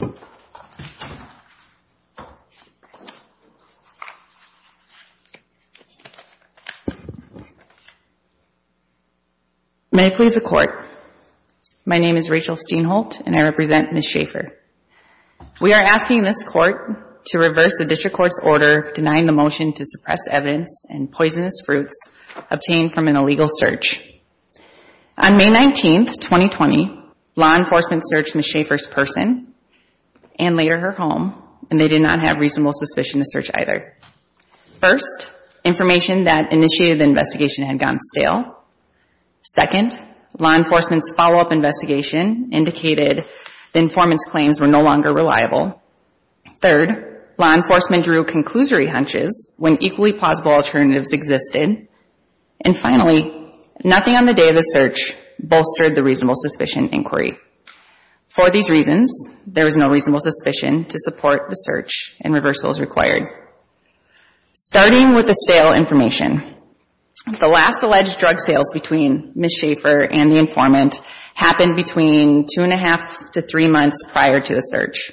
May it please the Court, my name is Rachel Steinholt and I represent Ms. Schaefer. We are asking this Court to reverse the District Court's order denying the motion to suppress evidence and poisonous fruits obtained from an illegal search. On May 19, 2020, law enforcement searched Ms. Schaefer's person and later her home and they did not have reasonable suspicion to search either. First, information that initiated the investigation had gone stale. Second, law enforcement's follow-up investigation indicated the informant's claims were no longer reliable. Third, law enforcement drew conclusory hunches when equally plausible alternatives existed. And For these reasons, there was no reasonable suspicion to support the search and reversals required. Starting with the stale information, the last alleged drug sales between Ms. Schaefer and the informant happened between two and a half to three months prior to the search.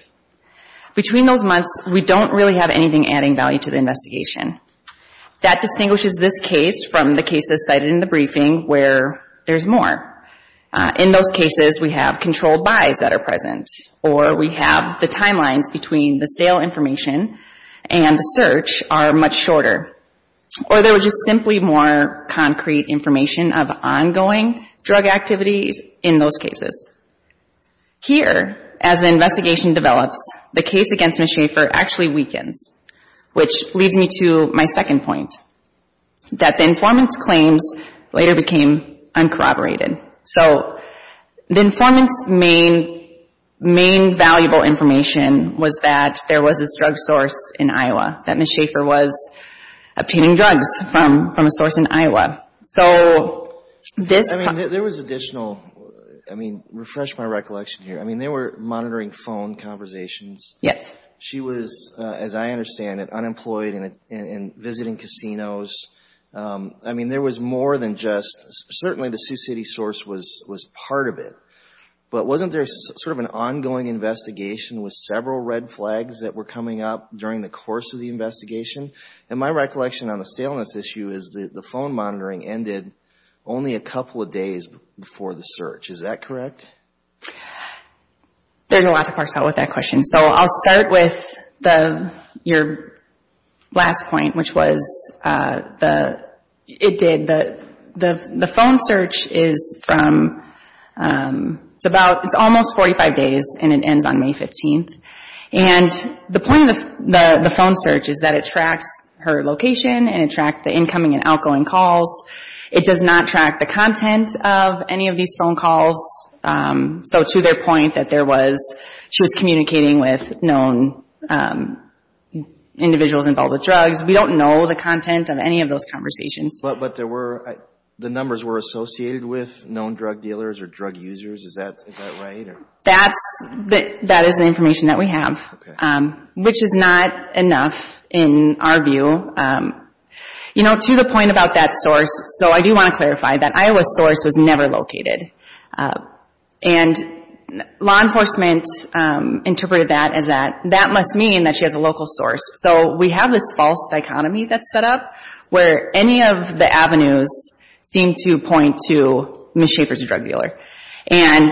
Between those months, we don't really have anything adding value to the investigation. That distinguishes this case from the cases cited in the briefing where there's more. In those cases, we have controlled buys that are present or we have the timelines between the stale information and the search are much shorter. Or there was just simply more concrete information of ongoing drug activities in those cases. Here, as the investigation develops, the case against Ms. Schaefer actually weakens, which leads me to my second point. That the informant's claims later became uncorroborated. So the informant's main valuable information was that there was this drug source in Iowa, that Ms. Schaefer was obtaining drugs from a source in Iowa. So this... I mean, there was additional... I mean, refresh my recollection here. I mean, they were monitoring phone conversations. Yes. She was, as I understand it, unemployed and visiting casinos. I mean, there was more than just... Certainly the Sioux City source was part of it. But wasn't there sort of an ongoing investigation with several red flags that were coming up during the course of the investigation? And my recollection on the staleness issue is that the phone monitoring ended only a couple of days before the search. Is that correct? There's a lot to parse out with that question. So I'll start with your last point, which was the... It did. The phone search is from... It's about... It's almost 45 days and it ends on May 15th. And the point of the phone search is that it tracks her location and it tracks the incoming and outgoing calls. It does not track the content of any of these phone calls. So to their point that there was... She was communicating with known individuals involved with drugs. We don't know the content of any of those conversations. But there were... The numbers were associated with known drug dealers or drug users. Is that right? That is the information that we have, which is not enough in our view. You know, to the point about that source... So I do want to clarify that Iowa's source was never located. And law enforcement interpreted that as that... That must mean that she has a local source. So we have this false dichotomy that's set up where any of the avenues seem to point to Ms. Schaffer's a drug dealer. And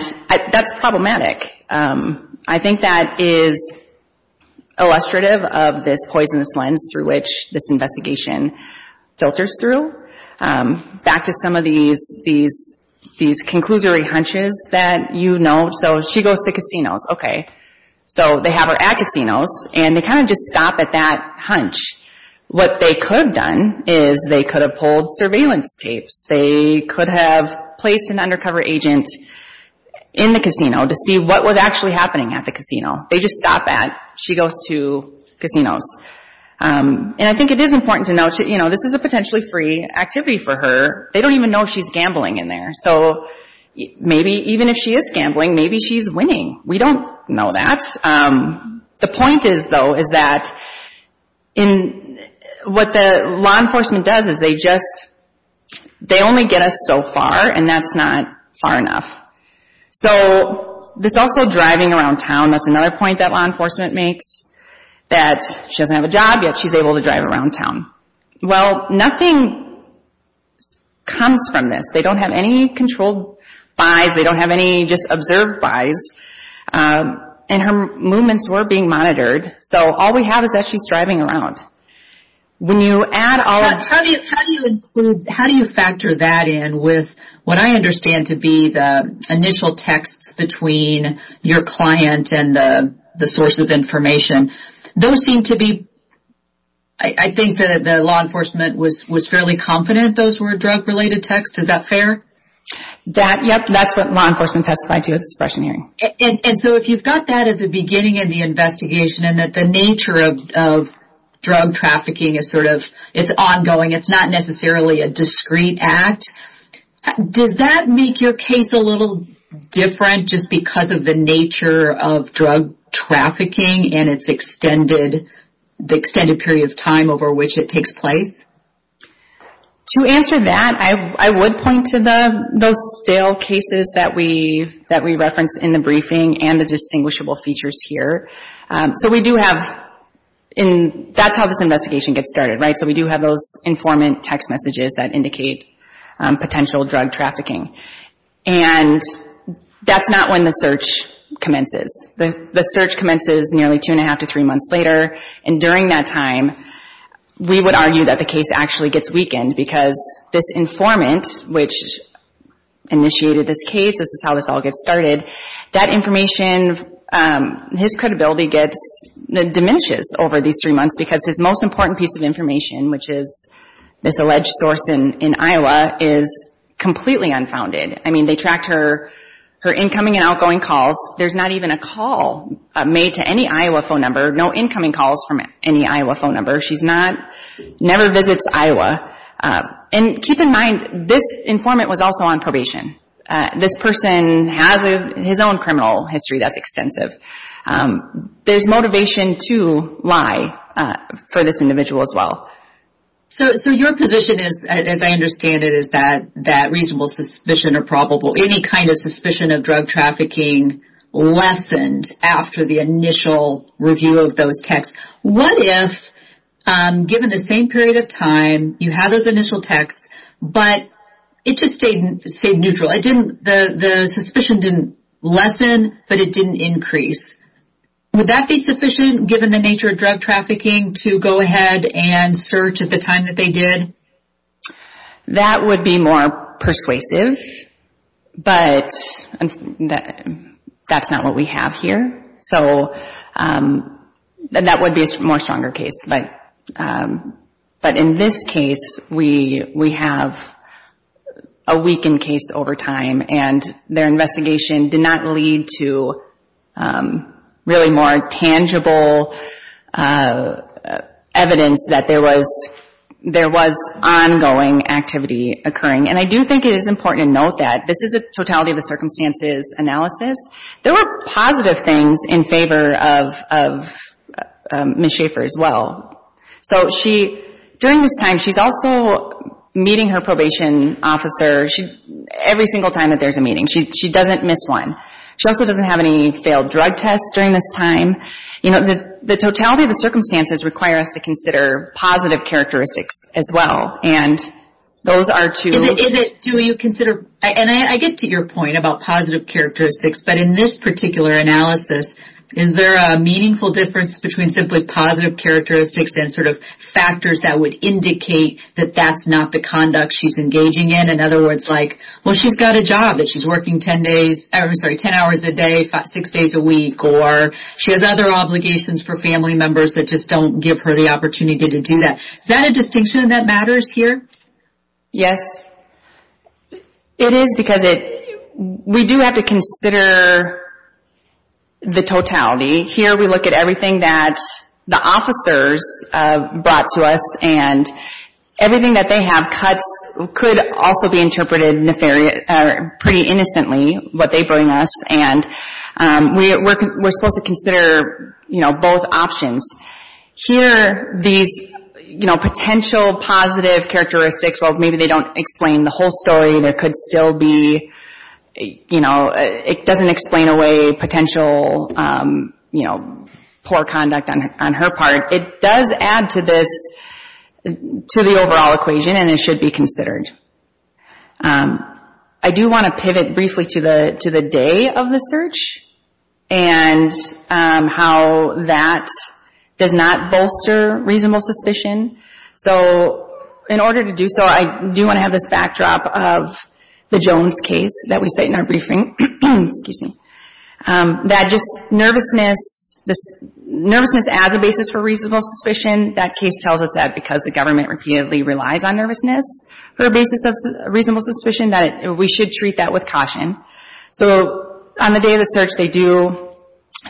that's problematic. I think that is illustrative of this poisonous lens through which this investigation filters through. Back to some of these... These conclusory hunches that you know... So she goes to casinos. Okay. So they have her at casinos. And they kind of just stop at that hunch. What they could have done is they could have pulled surveillance tapes. They could have placed an undercover agent in the casino to see what was actually happening at the casino. They just stop at she goes to casinos. And I think it is important to note, you know, this is a potentially free activity for her. They don't even know she's gambling in there. So maybe even if she is The point is, though, is that what the law enforcement does is they just... They only get us so far. And that's not far enough. So this also driving around town. That's another point that law enforcement makes. That she doesn't have a job, yet she's able to drive around town. Well, nothing comes from this. They don't have any controlled buys. They have some movements that are being monitored. So all we have is that she's driving around. When you add all... How do you factor that in with what I understand to be the initial texts between your client and the source of information? Those seem to be... I think that the law enforcement was fairly confident those were drug-related texts. Is that fair? Yep. That's what law enforcement testified to at the suppression hearing. And so if you've got that at the beginning of the investigation and that the nature of drug trafficking is sort of... It's ongoing. It's not necessarily a discrete act. Does that make your case a little different just because of the nature of drug trafficking and its extended period of time over which it takes place? To answer that, I would point to those stale cases that we referenced in the briefing and the distinguishable features here. So we do have... That's how this investigation gets started, right? So we do have those informant text messages that indicate potential drug trafficking. And that's not when the search commences. The search commences nearly two and a half to three months later. And during that time, we would argue that the case actually gets weakened because this informant, which initiated this case, this is how this all gets started, that information... His credibility diminishes over these three months because his most important piece of information, which is this alleged source in Iowa, is completely unfounded. I mean, they tracked her incoming and outgoing calls. There's not even a call made to any Iowa phone number. No incoming calls from any Iowa phone number. She never visits Iowa. And keep in mind, this informant was also on probation. This person has his own criminal history that's extensive. There's motivation to lie for this individual as well. So your position is, as I understand it, is that reasonable suspicion or probable... Any kind of suspicion of drug trafficking lessened after the initial review of those texts. What if, given the same period of time, you have those initial texts, but it just stayed neutral? The suspicion didn't lessen, but it didn't increase. Would that be sufficient, given the nature of drug trafficking, to go ahead and search at the time that they did? That would be more persuasive, but that's not what we have here. That would be a more stronger case. But in this case, we have a weakened case over time, and their investigation did not lead to really more tangible evidence that there was ongoing activity occurring. And I do think it is important to note that this is a totality of the circumstances analysis. There were positive things in favor of Ms. Schaefer as well. During this time, she's also meeting her probation officer every single time that there's a meeting. She doesn't miss one. She also doesn't have any failed drug tests during this time. The totality of the circumstances require us to consider positive characteristics as well. And I get to your point about positive characteristics, but in this particular analysis, is there a meaningful difference between simply positive characteristics and factors that would indicate that that's not the conduct she's engaging in? In other words, she's got a job that she's working 10 hours a day, 6 days a week, or she has other obligations for family members that just don't give her the opportunity to do that. Is that a distinction that matters here? Yes, it is because we do have to consider the totality. Here, we look at everything that the officers brought to us, and everything that they have, cuts, could also be interpreted pretty innocently, what they bring us. We're supposed to consider both options. Here, these potential positive characteristics, maybe they don't explain the whole story. It doesn't explain away potential poor conduct on her part. It does add to the overall equation and it should be considered. I do want to pivot briefly to the day of the search and how that does not bolster reasonable suspicion. In order to do so, I do want to have this backdrop of the Jones case that we cite in our briefing. That just nervousness as a basis for reasonable suspicion, that case tells us that because the government repeatedly relies on nervousness for a basis of reasonable suspicion, that we should treat that with caution. On the day of the search, they do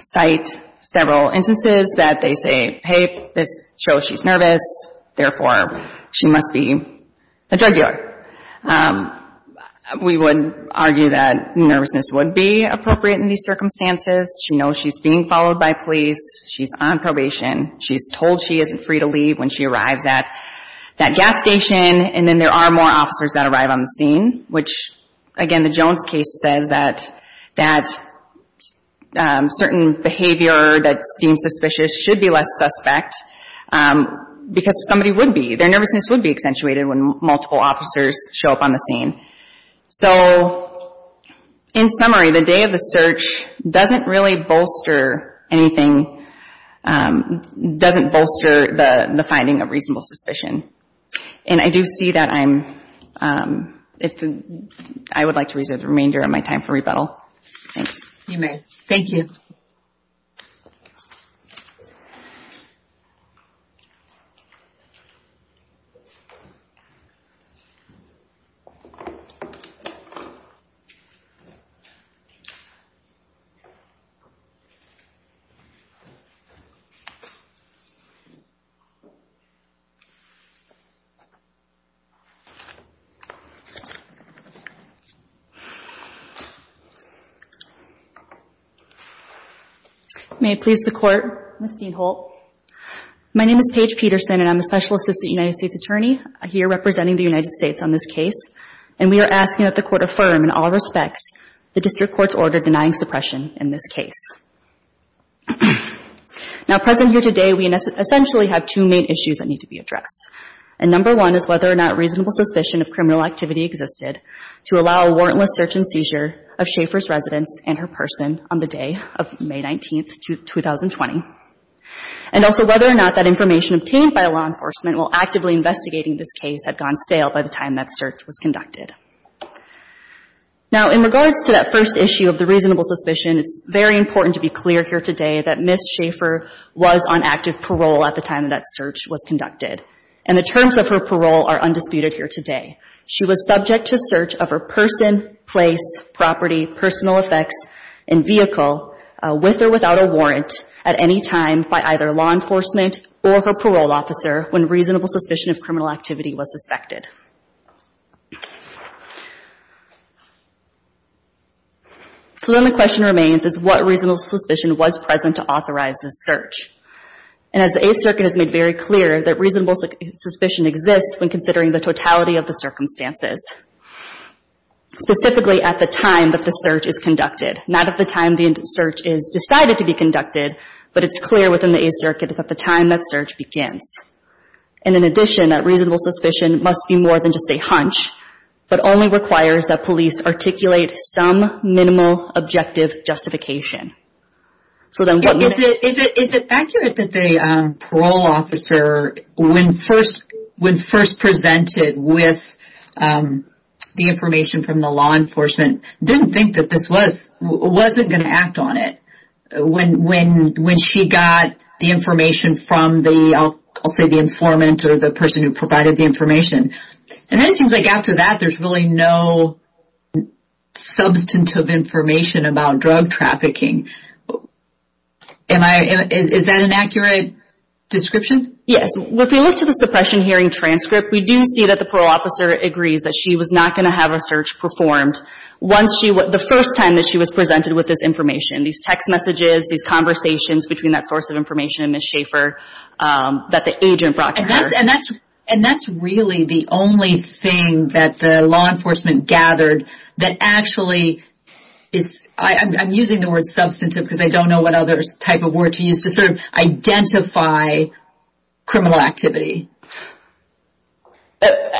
cite several instances that they say, hey, this shows she's nervous, therefore, she must be a drug dealer. We would argue that nervousness would be appropriate in these circumstances. She knows she's being followed by police. She's on probation. She's told she isn't free to leave when she arrives at that gas station. Then there are more officers that arrive on the scene, which again, the Jones case says that certain behavior that seems suspicious should be less suspect because somebody would be. Their nervousness would be accentuated when multiple officers show up on the scene. In summary, the day of the search doesn't really bolster anything, doesn't bolster the finding of reasonable suspicion. I do see that I would like to reserve the remainder of my time for rebuttal. Thanks. You may. Thank you. May it please the Court, Ms. Dean-Holt. My name is Paige Peterson, and I'm a Special Assistant United States Attorney here representing the United States on this case. And we are asking that the Court affirm in all respects the District Court's order denying suppression in this case. Now, present here today, we essentially have two main issues that need to be addressed. And number one is whether or not reasonable suspicion of criminal activity existed to allow a warrantless search and seizure of Schaefer's residence and her person on the day of May 19, 2020. And also whether or not that information obtained by law enforcement while actively investigating this case had gone stale by the time that search was conducted. Now in regards to that first issue of the reasonable suspicion, it's very important to be clear here today that Ms. Schaefer was on active parole at the time that that search was conducted. And the terms of her parole are undisputed here today. She was subject to search of her person, place, property, personal effects, and vehicle with or without a warrant at any time by either law enforcement or her parole officer when reasonable suspicion of criminal activity was suspected. So then the question remains is what reasonable suspicion was present to authorize this search? And as the Eighth Circuit has made very clear, that reasonable suspicion exists when considering the totality of the circumstances. Specifically at the time that the search is conducted. Not at the time the search is decided to be conducted, but it's clear within the Eighth Circuit that the time that search begins. And in addition, that reasonable suspicion must be more than just a hunch, but only requires that police articulate some minimal objective justification. Is it accurate that the parole officer, when first presented with the information from the law enforcement, didn't think that this was, wasn't going to act on it? When she got the information from the, I'll say the informant or the person who provided the information. And then it seems like after that there's really no substantive information about drug trafficking. Am I, is that an accurate description? Yes. If we look to the suppression hearing transcript, we do see that the parole officer agrees that she was not going to have her search performed once she, the first time that she was presented with this information. These text messages, these conversations between that source of information and Ms. Schaefer that the agent brought to her. And that's really the only thing that the law enforcement gathered that actually is, I'm using the word substantive because I don't know what other type of word to use to sort of identify criminal activity.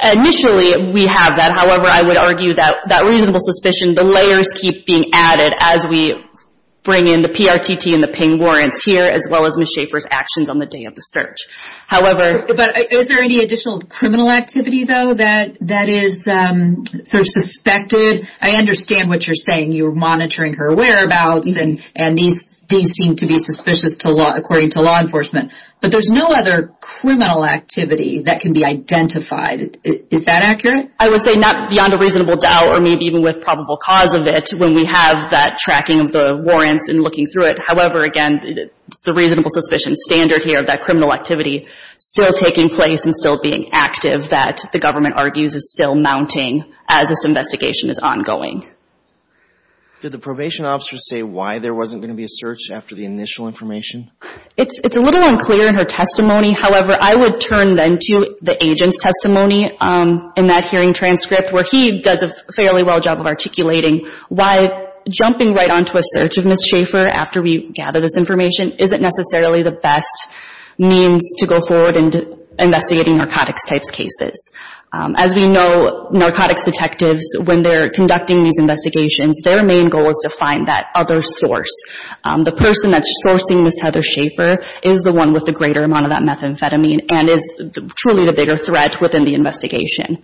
Initially, we have that. However, I would argue that that reasonable suspicion, the layers keep being added as we bring in the PRTT and the ping warrants here, as well as Ms. Schaefer's actions on the day of the search. However, is there any additional criminal activity though that is sort of suspected? I understand what you're saying. You're monitoring her whereabouts and these seem to be suspicious to law, according to law enforcement. But there's no other criminal activity that can be identified. Is that accurate? I would say not beyond a reasonable doubt or maybe even with probable cause of it when we have that tracking of the warrants and looking through it. However, again, it's the reasonable suspicion standard here of that criminal activity still taking place and still being active that the government argues is still mounting as this investigation is ongoing. Did the probation officer say why there wasn't going to be a search after the initial information? It's a little unclear in her testimony. However, I would turn then to the agent's testimony in that hearing transcript where he does a fairly well job of articulating why jumping right onto a search of Ms. Schaefer after we gather this information isn't necessarily the best means to go forward in investigating narcotics-type cases. As we know, narcotics detectives, when they're conducting these investigations, their main goal is to find that other source. The person that's sourcing Ms. Heather Schaefer is the one with the greater amount of that methamphetamine and is truly the bigger threat within the investigation.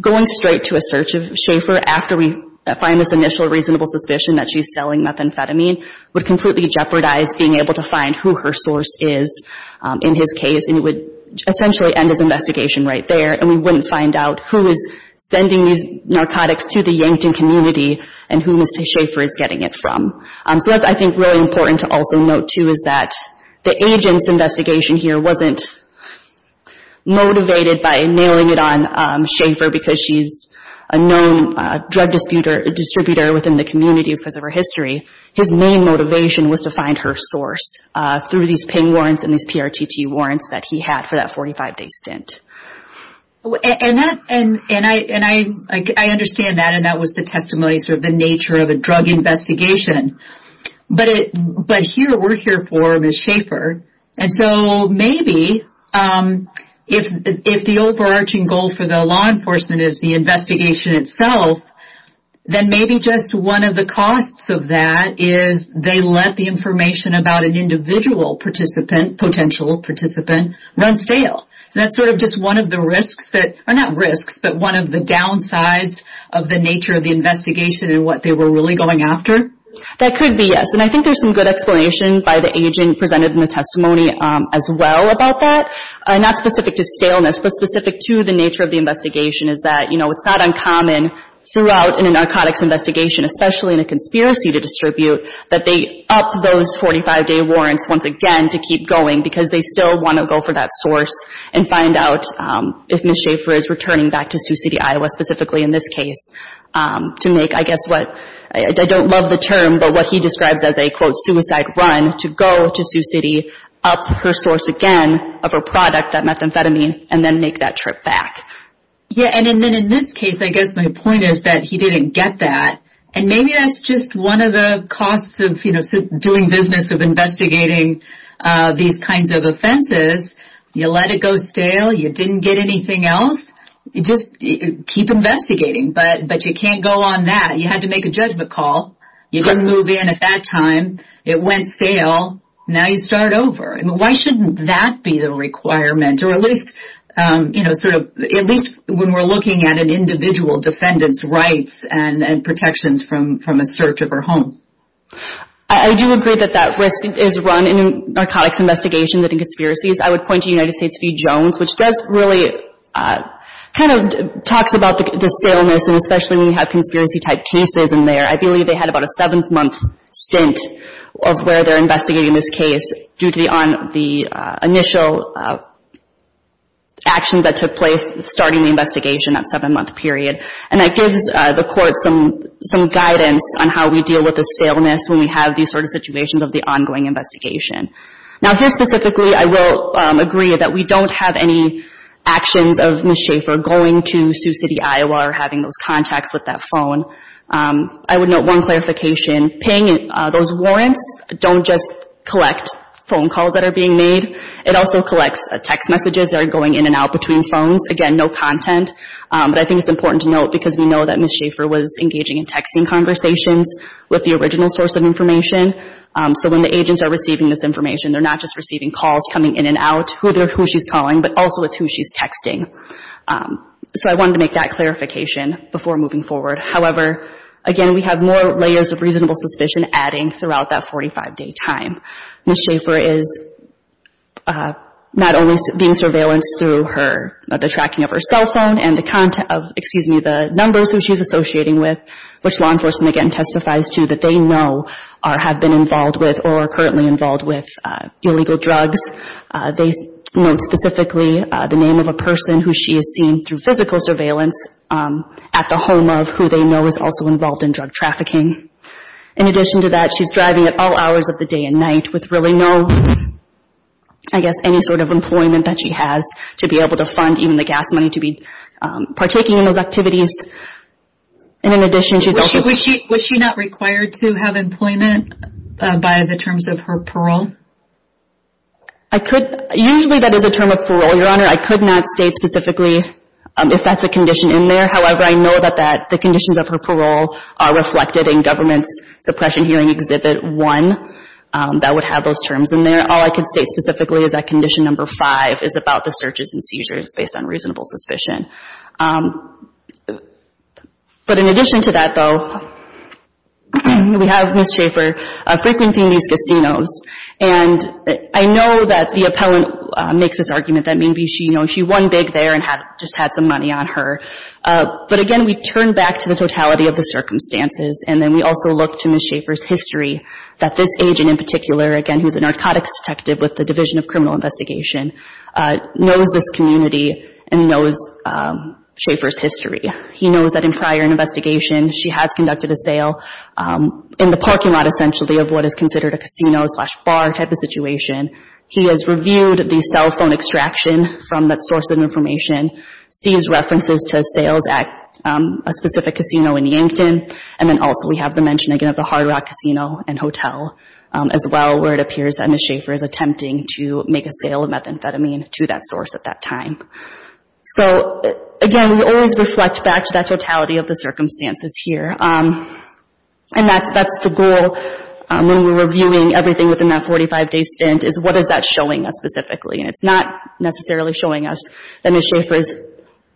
Going straight to a search of Schaefer after we find this initial reasonable suspicion that she's selling methamphetamine would completely jeopardize being able to find who her source is in his case. It would essentially end his investigation right there. We wouldn't find out who is sending these narcotics to the Yankton community and who Ms. Schaefer is getting it from. That's, I think, really important to also note, too, is that the agent's investigation here wasn't motivated by nailing it on Schaefer because she's a known drug distributor within the community because of her history. His main motivation was to find her source through these PIN warrants and these PRTT warrants that he had for that 45-day stint. And I understand that, and that was the testimony of the nature of a drug investigation. But here we're here for Ms. Schaefer. So maybe if the overarching goal for the law enforcement is the investigation itself, then maybe just one of the costs of that is they let the information about an individual participant, potential participant, run stale. That's sort of just one of the risks that, or not risks, but one of the downsides of the nature of the investigation and what they were really going after? That could be, yes. And I think there's some good explanation by the agent presented in the testimony as well about that. Not specific to staleness, but specific to the nature of the investigation is that, you know, it's not uncommon throughout a narcotics investigation, especially in a conspiracy to distribute, that they up those 45-day warrants once again to keep going because they still want to go for that source and find out if Ms. Schaefer is returning back to Sioux City, Iowa, specifically in this case, to make, I guess what, I don't love the term, but what he describes as a, quote, suicide run to go to Sioux City, up her source again of her product, that methamphetamine, and then make that trip back. Yeah, and then in this case, I guess my point is that he didn't get that. And maybe that's just one of the costs of, you know, doing business of investigating these kinds of offenses. You let it go stale. You didn't get anything else. You just keep investigating, but you can't go on that. You had to make a judgment call. You didn't move in at that time. It went stale. Now you start over. I mean, why shouldn't that be the requirement? Or at least, you know, sort of, at least when we're looking at an individual defendant's rights and protections from a search of her home. I do agree that that risk is run in a narcotics investigation, that in conspiracies. I would point to United States v. Jones, which does really, kind of talks about the staleness and especially when you have conspiracy type cases in there. I believe they had about a dozen actions that took place starting the investigation, that seven-month period. And that gives the court some guidance on how we deal with the staleness when we have these sort of situations of the ongoing investigation. Now, here specifically, I will agree that we don't have any actions of Ms. Schaefer going to Sioux City, Iowa or having those contacts with that phone. I would note one clarification. Paying those warrants don't just collect phone calls that are being made. It also collects text messages that are going in and out between phones. Again, no content. But I think it's important to note because we know that Ms. Schaefer was engaging in texting conversations with the original source of information. So when the agents are receiving this information, they're not just receiving calls coming in and out, who she's calling, but also it's who she's texting. So I wanted to make that clarification before moving forward. However, again, we have more layers of reasonable suspicion adding throughout that 45-day time. Ms. Schaefer is not only being surveillanced through the tracking of her cell phone and the numbers who she's associating with, which law enforcement again testifies to that they know have been involved with or are currently involved with illegal drugs. They note specifically the name of a person who she has seen through physical surveillance at the home of who they know is also involved in drug trafficking. In addition to that, she's driving at all hours of the day and night with really no, I guess, any sort of employment that she has to be able to fund even the gas money to be partaking in those activities. And in addition, she's also... Was she not required to have employment by the terms of her parole? Usually that is a term of parole, Your Honor. I could not state specifically if that's a Government Suppression Hearing Exhibit 1 that would have those terms in there. All I could state specifically is that Condition No. 5 is about the searches and seizures based on reasonable suspicion. But in addition to that, though, we have Ms. Schaefer frequenting these casinos. And I know that the appellant makes this argument that maybe she won big there and just had some money on her. But again, we turn back to the totality of the circumstances and then we also look to Ms. Schaefer's history that this agent in particular, again, who's a narcotics detective with the Division of Criminal Investigation, knows this community and knows Schaefer's history. He knows that in prior investigation, she has conducted a sale in the parking lot essentially of what is considered a casino slash bar type of situation. He has reviewed the cell phone extraction from that source of information, sees references to sales at a specific casino in Yankton. And then also we have the mention, again, of the Hard Rock Casino and Hotel as well where it appears that Ms. Schaefer is attempting to make a sale of methamphetamine to that source at that time. So again, we always reflect back to that totality of the circumstances here. And that's the goal when we're reviewing everything within that 45-day stint is what is that showing us specifically. And it's not necessarily showing us that Ms. Schaefer is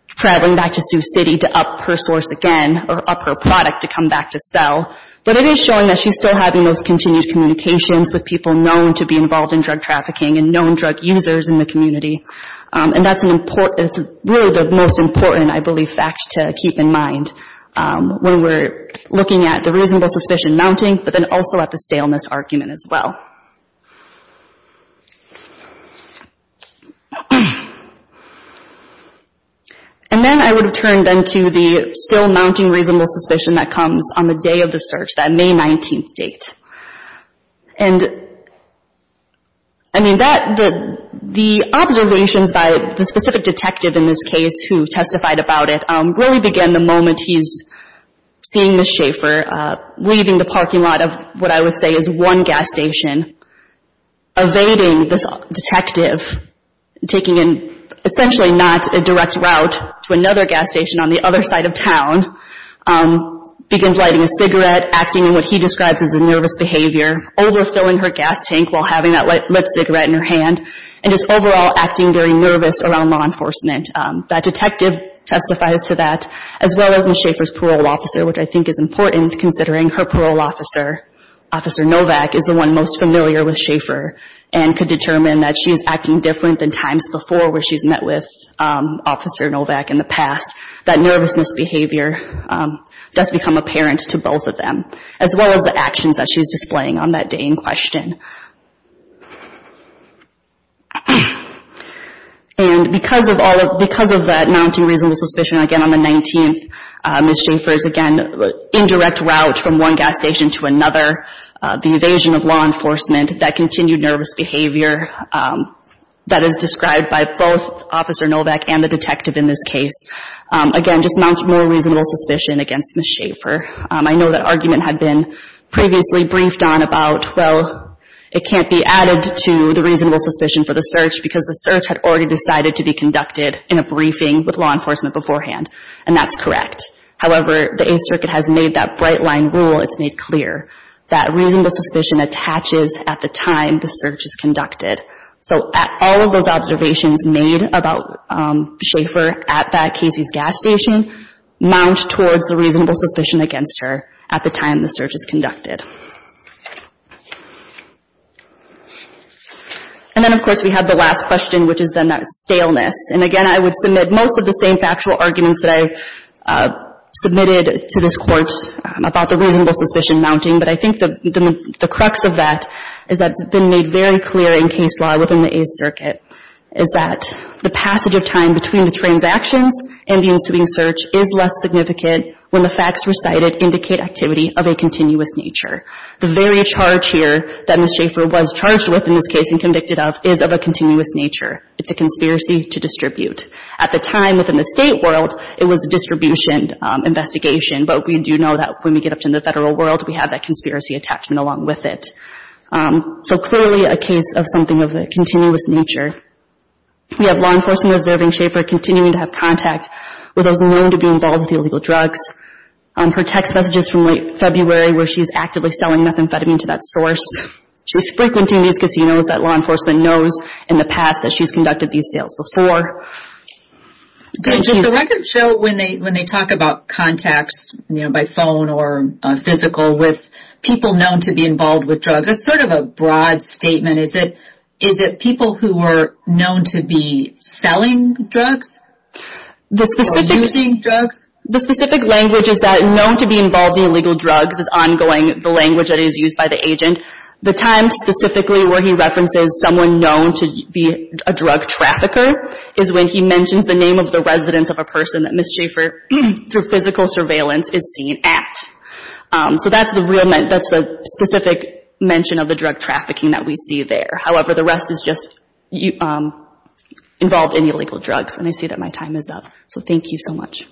traveling back to Sioux City to up her source again or up her product to come back to sell. But it is showing that she's still having those continued communications with people known to be involved in drug trafficking and known drug users in the community. And that's really the most important, I believe, fact to keep in mind when we're looking at the reasonable suspicion mounting, but then also at the staleness argument as well. And then I would have turned then to the still mounting reasonable suspicion that comes on the day of the search, that May 19th date. And I mean, the observations by the specific detective in this case who testified about it really began the moment he's seeing Ms. Schaefer at a gas station, evading this detective, taking an essentially not a direct route to another gas station on the other side of town, begins lighting a cigarette, acting in what he describes as a nervous behavior, overfilling her gas tank while having that lit cigarette in her hand, and is overall acting very nervous around law enforcement. That detective testifies to that, as well as Ms. Schaefer's parole officer, which I think is important considering her parole officer, Officer Novak, is the one most familiar with Schaefer and could determine that she's acting different than times before where she's met with Officer Novak in the past. That nervousness behavior does become apparent to both of them, as well as the actions that she's displaying on that day in question. And because of the mounting reasonable suspicion again on the 19th, Ms. Schaefer is again in one gas station to another, the evasion of law enforcement, that continued nervous behavior that is described by both Officer Novak and the detective in this case, again just mounts more reasonable suspicion against Ms. Schaefer. I know that argument had been previously briefed on about, well, it can't be added to the reasonable suspicion for the search because the search had already decided to be conducted in a briefing with law enforcement beforehand, and that's correct. However, the Eighth Circuit has made that bright-line rule, it's made clear, that reasonable suspicion attaches at the time the search is conducted. So all of those observations made about Schaefer at that Casey's gas station mount towards the reasonable suspicion against her at the time the search is conducted. And then, of course, we have the last question, which is then that staleness. And again, I would submit most of the same factual arguments that I submitted to this Court about the reasonable suspicion mounting, but I think the crux of that is that it's been made very clear in case law within the Eighth Circuit, is that the passage of time between the transactions and the ensuing search is less significant when the facts recited indicate activity of a continuous nature. The very charge here that Ms. Schaefer was charged with in this case and convicted of is of a continuous nature. It's a conspiracy to distribute. At the time within the state world, it was a distribution investigation, but we do know that when we get up to the federal world, we have that conspiracy attachment along with it. So clearly a case of something of a continuous nature. We have law enforcement observing Schaefer continuing to have contact with those known to be involved with illegal drugs. Her text messages from late February where she's actively selling methamphetamine to that source. She was frequenting these casinos that law enforcement knows in the past that she's conducted these sales before. Does the record show when they talk about contacts by phone or physical with people known to be involved with drugs, that's sort of a broad statement. Is it people who are known to be selling drugs or using drugs? The specific language is that known to be involved in illegal drugs is ongoing, the language that is used by the agent. The time specifically where he references someone known to be a drug trafficker is when he mentions the name of the residence of a person that Ms. Schaefer, through physical surveillance, is seen at. So that's the real, that's the specific mention of the drug trafficking that we see there. However, the rest is just involved in illegal drugs. And I say that my time is up. So thank you so much.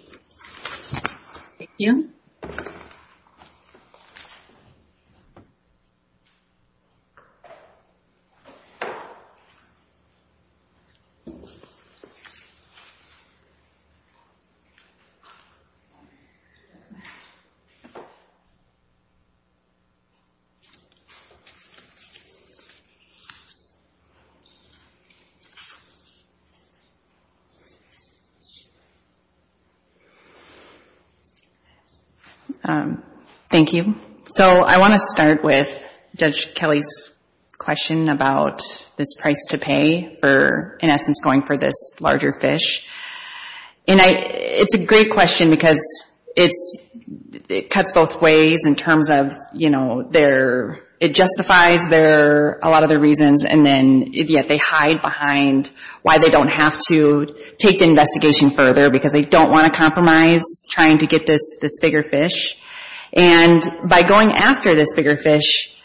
Thank you. So I want to start with Judge Kelly's question about this price to pay for, in essence, going for this larger fish. And I, it's a great question because it's, it cuts both ways in terms of, you know, their, it justifies their, a lot of their reasons and then yet they hide behind why they don't have to take the investigation further because they don't want to compromise trying to get this bigger fish. And by going after this bigger fish,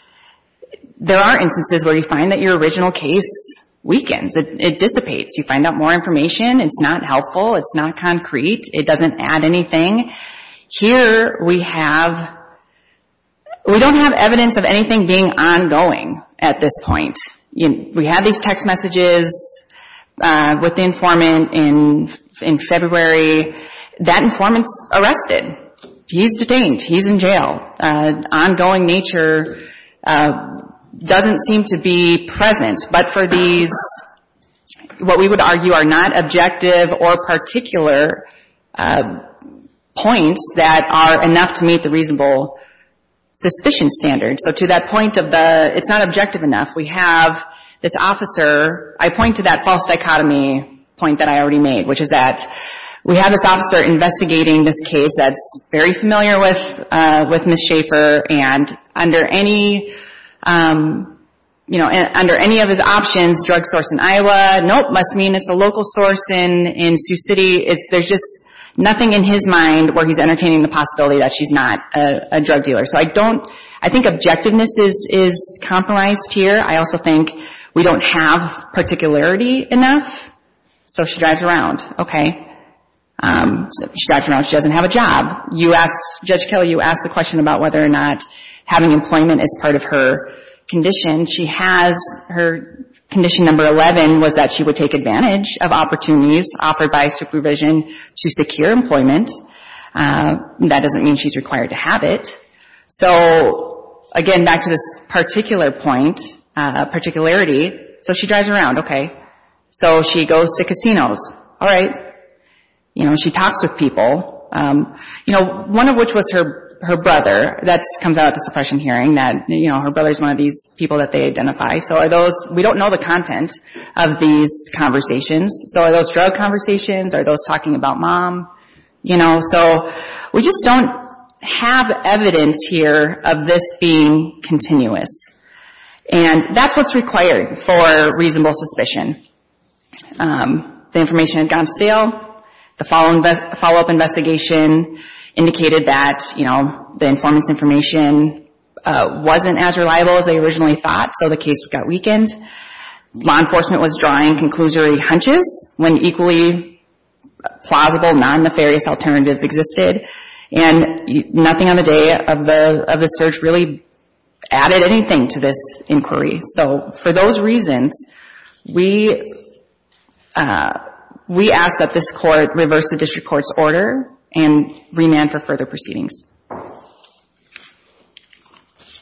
there are instances where you find that your original case weakens. It dissipates. You find out more information. It's not helpful. It's not concrete. It doesn't add anything. Here we have, we don't have evidence of anything being ongoing at this point. We have these text messages with the informant in February. That informant's arrested. He's detained. He's in jail. Ongoing nature doesn't seem to be present. But for these, what we would argue are not objective or particular points that are enough to meet the reasonable suspicion standard. So to that point of the, it's not objective enough. We have this officer, I point to that false psychotomy point that I already made, which is that we have this officer investigating this case that's very familiar with, with Ms. Schaefer and under any, you know, under any of his options, drug source in Iowa, nope, must mean it's a local source in Sioux City. There's just nothing in his mind where he's entertaining the possibility that she's not a drug dealer. So I don't, I think objectiveness is compromised here. I also think we don't have particularity enough. So she drives around. Okay. She drives around. She doesn't have a job. You asked, Judge Kelley, you asked the question about whether or not having employment is part of her condition. She has, her condition number 11 was that she would take advantage of opportunities offered by supervision to secure employment. That doesn't mean she's required to have it. So, again, back to this particular point, particularity. So she drives around. Okay. So she goes to casinos. All right. You know, she talks with people. You know, one of which was her, her brother. That comes out at the suppression hearing, that, you know, her brother's one of these people that they identify. So are those, we don't know the content of these conversations. So are those drug conversations? Are those talking about mom? You know, so we just don't have evidence here of this being continuous. And that's what's required for reasonable suspicion. The information had gone to steal. The follow-up investigation indicated that, you know, the informant's information wasn't as reliable as they originally thought, so the case got weakened. Law enforcement was frustrated, and nothing on the day of the search really added anything to this inquiry. So for those reasons, we asked that this court reverse the district court's order and remand for further proceedings.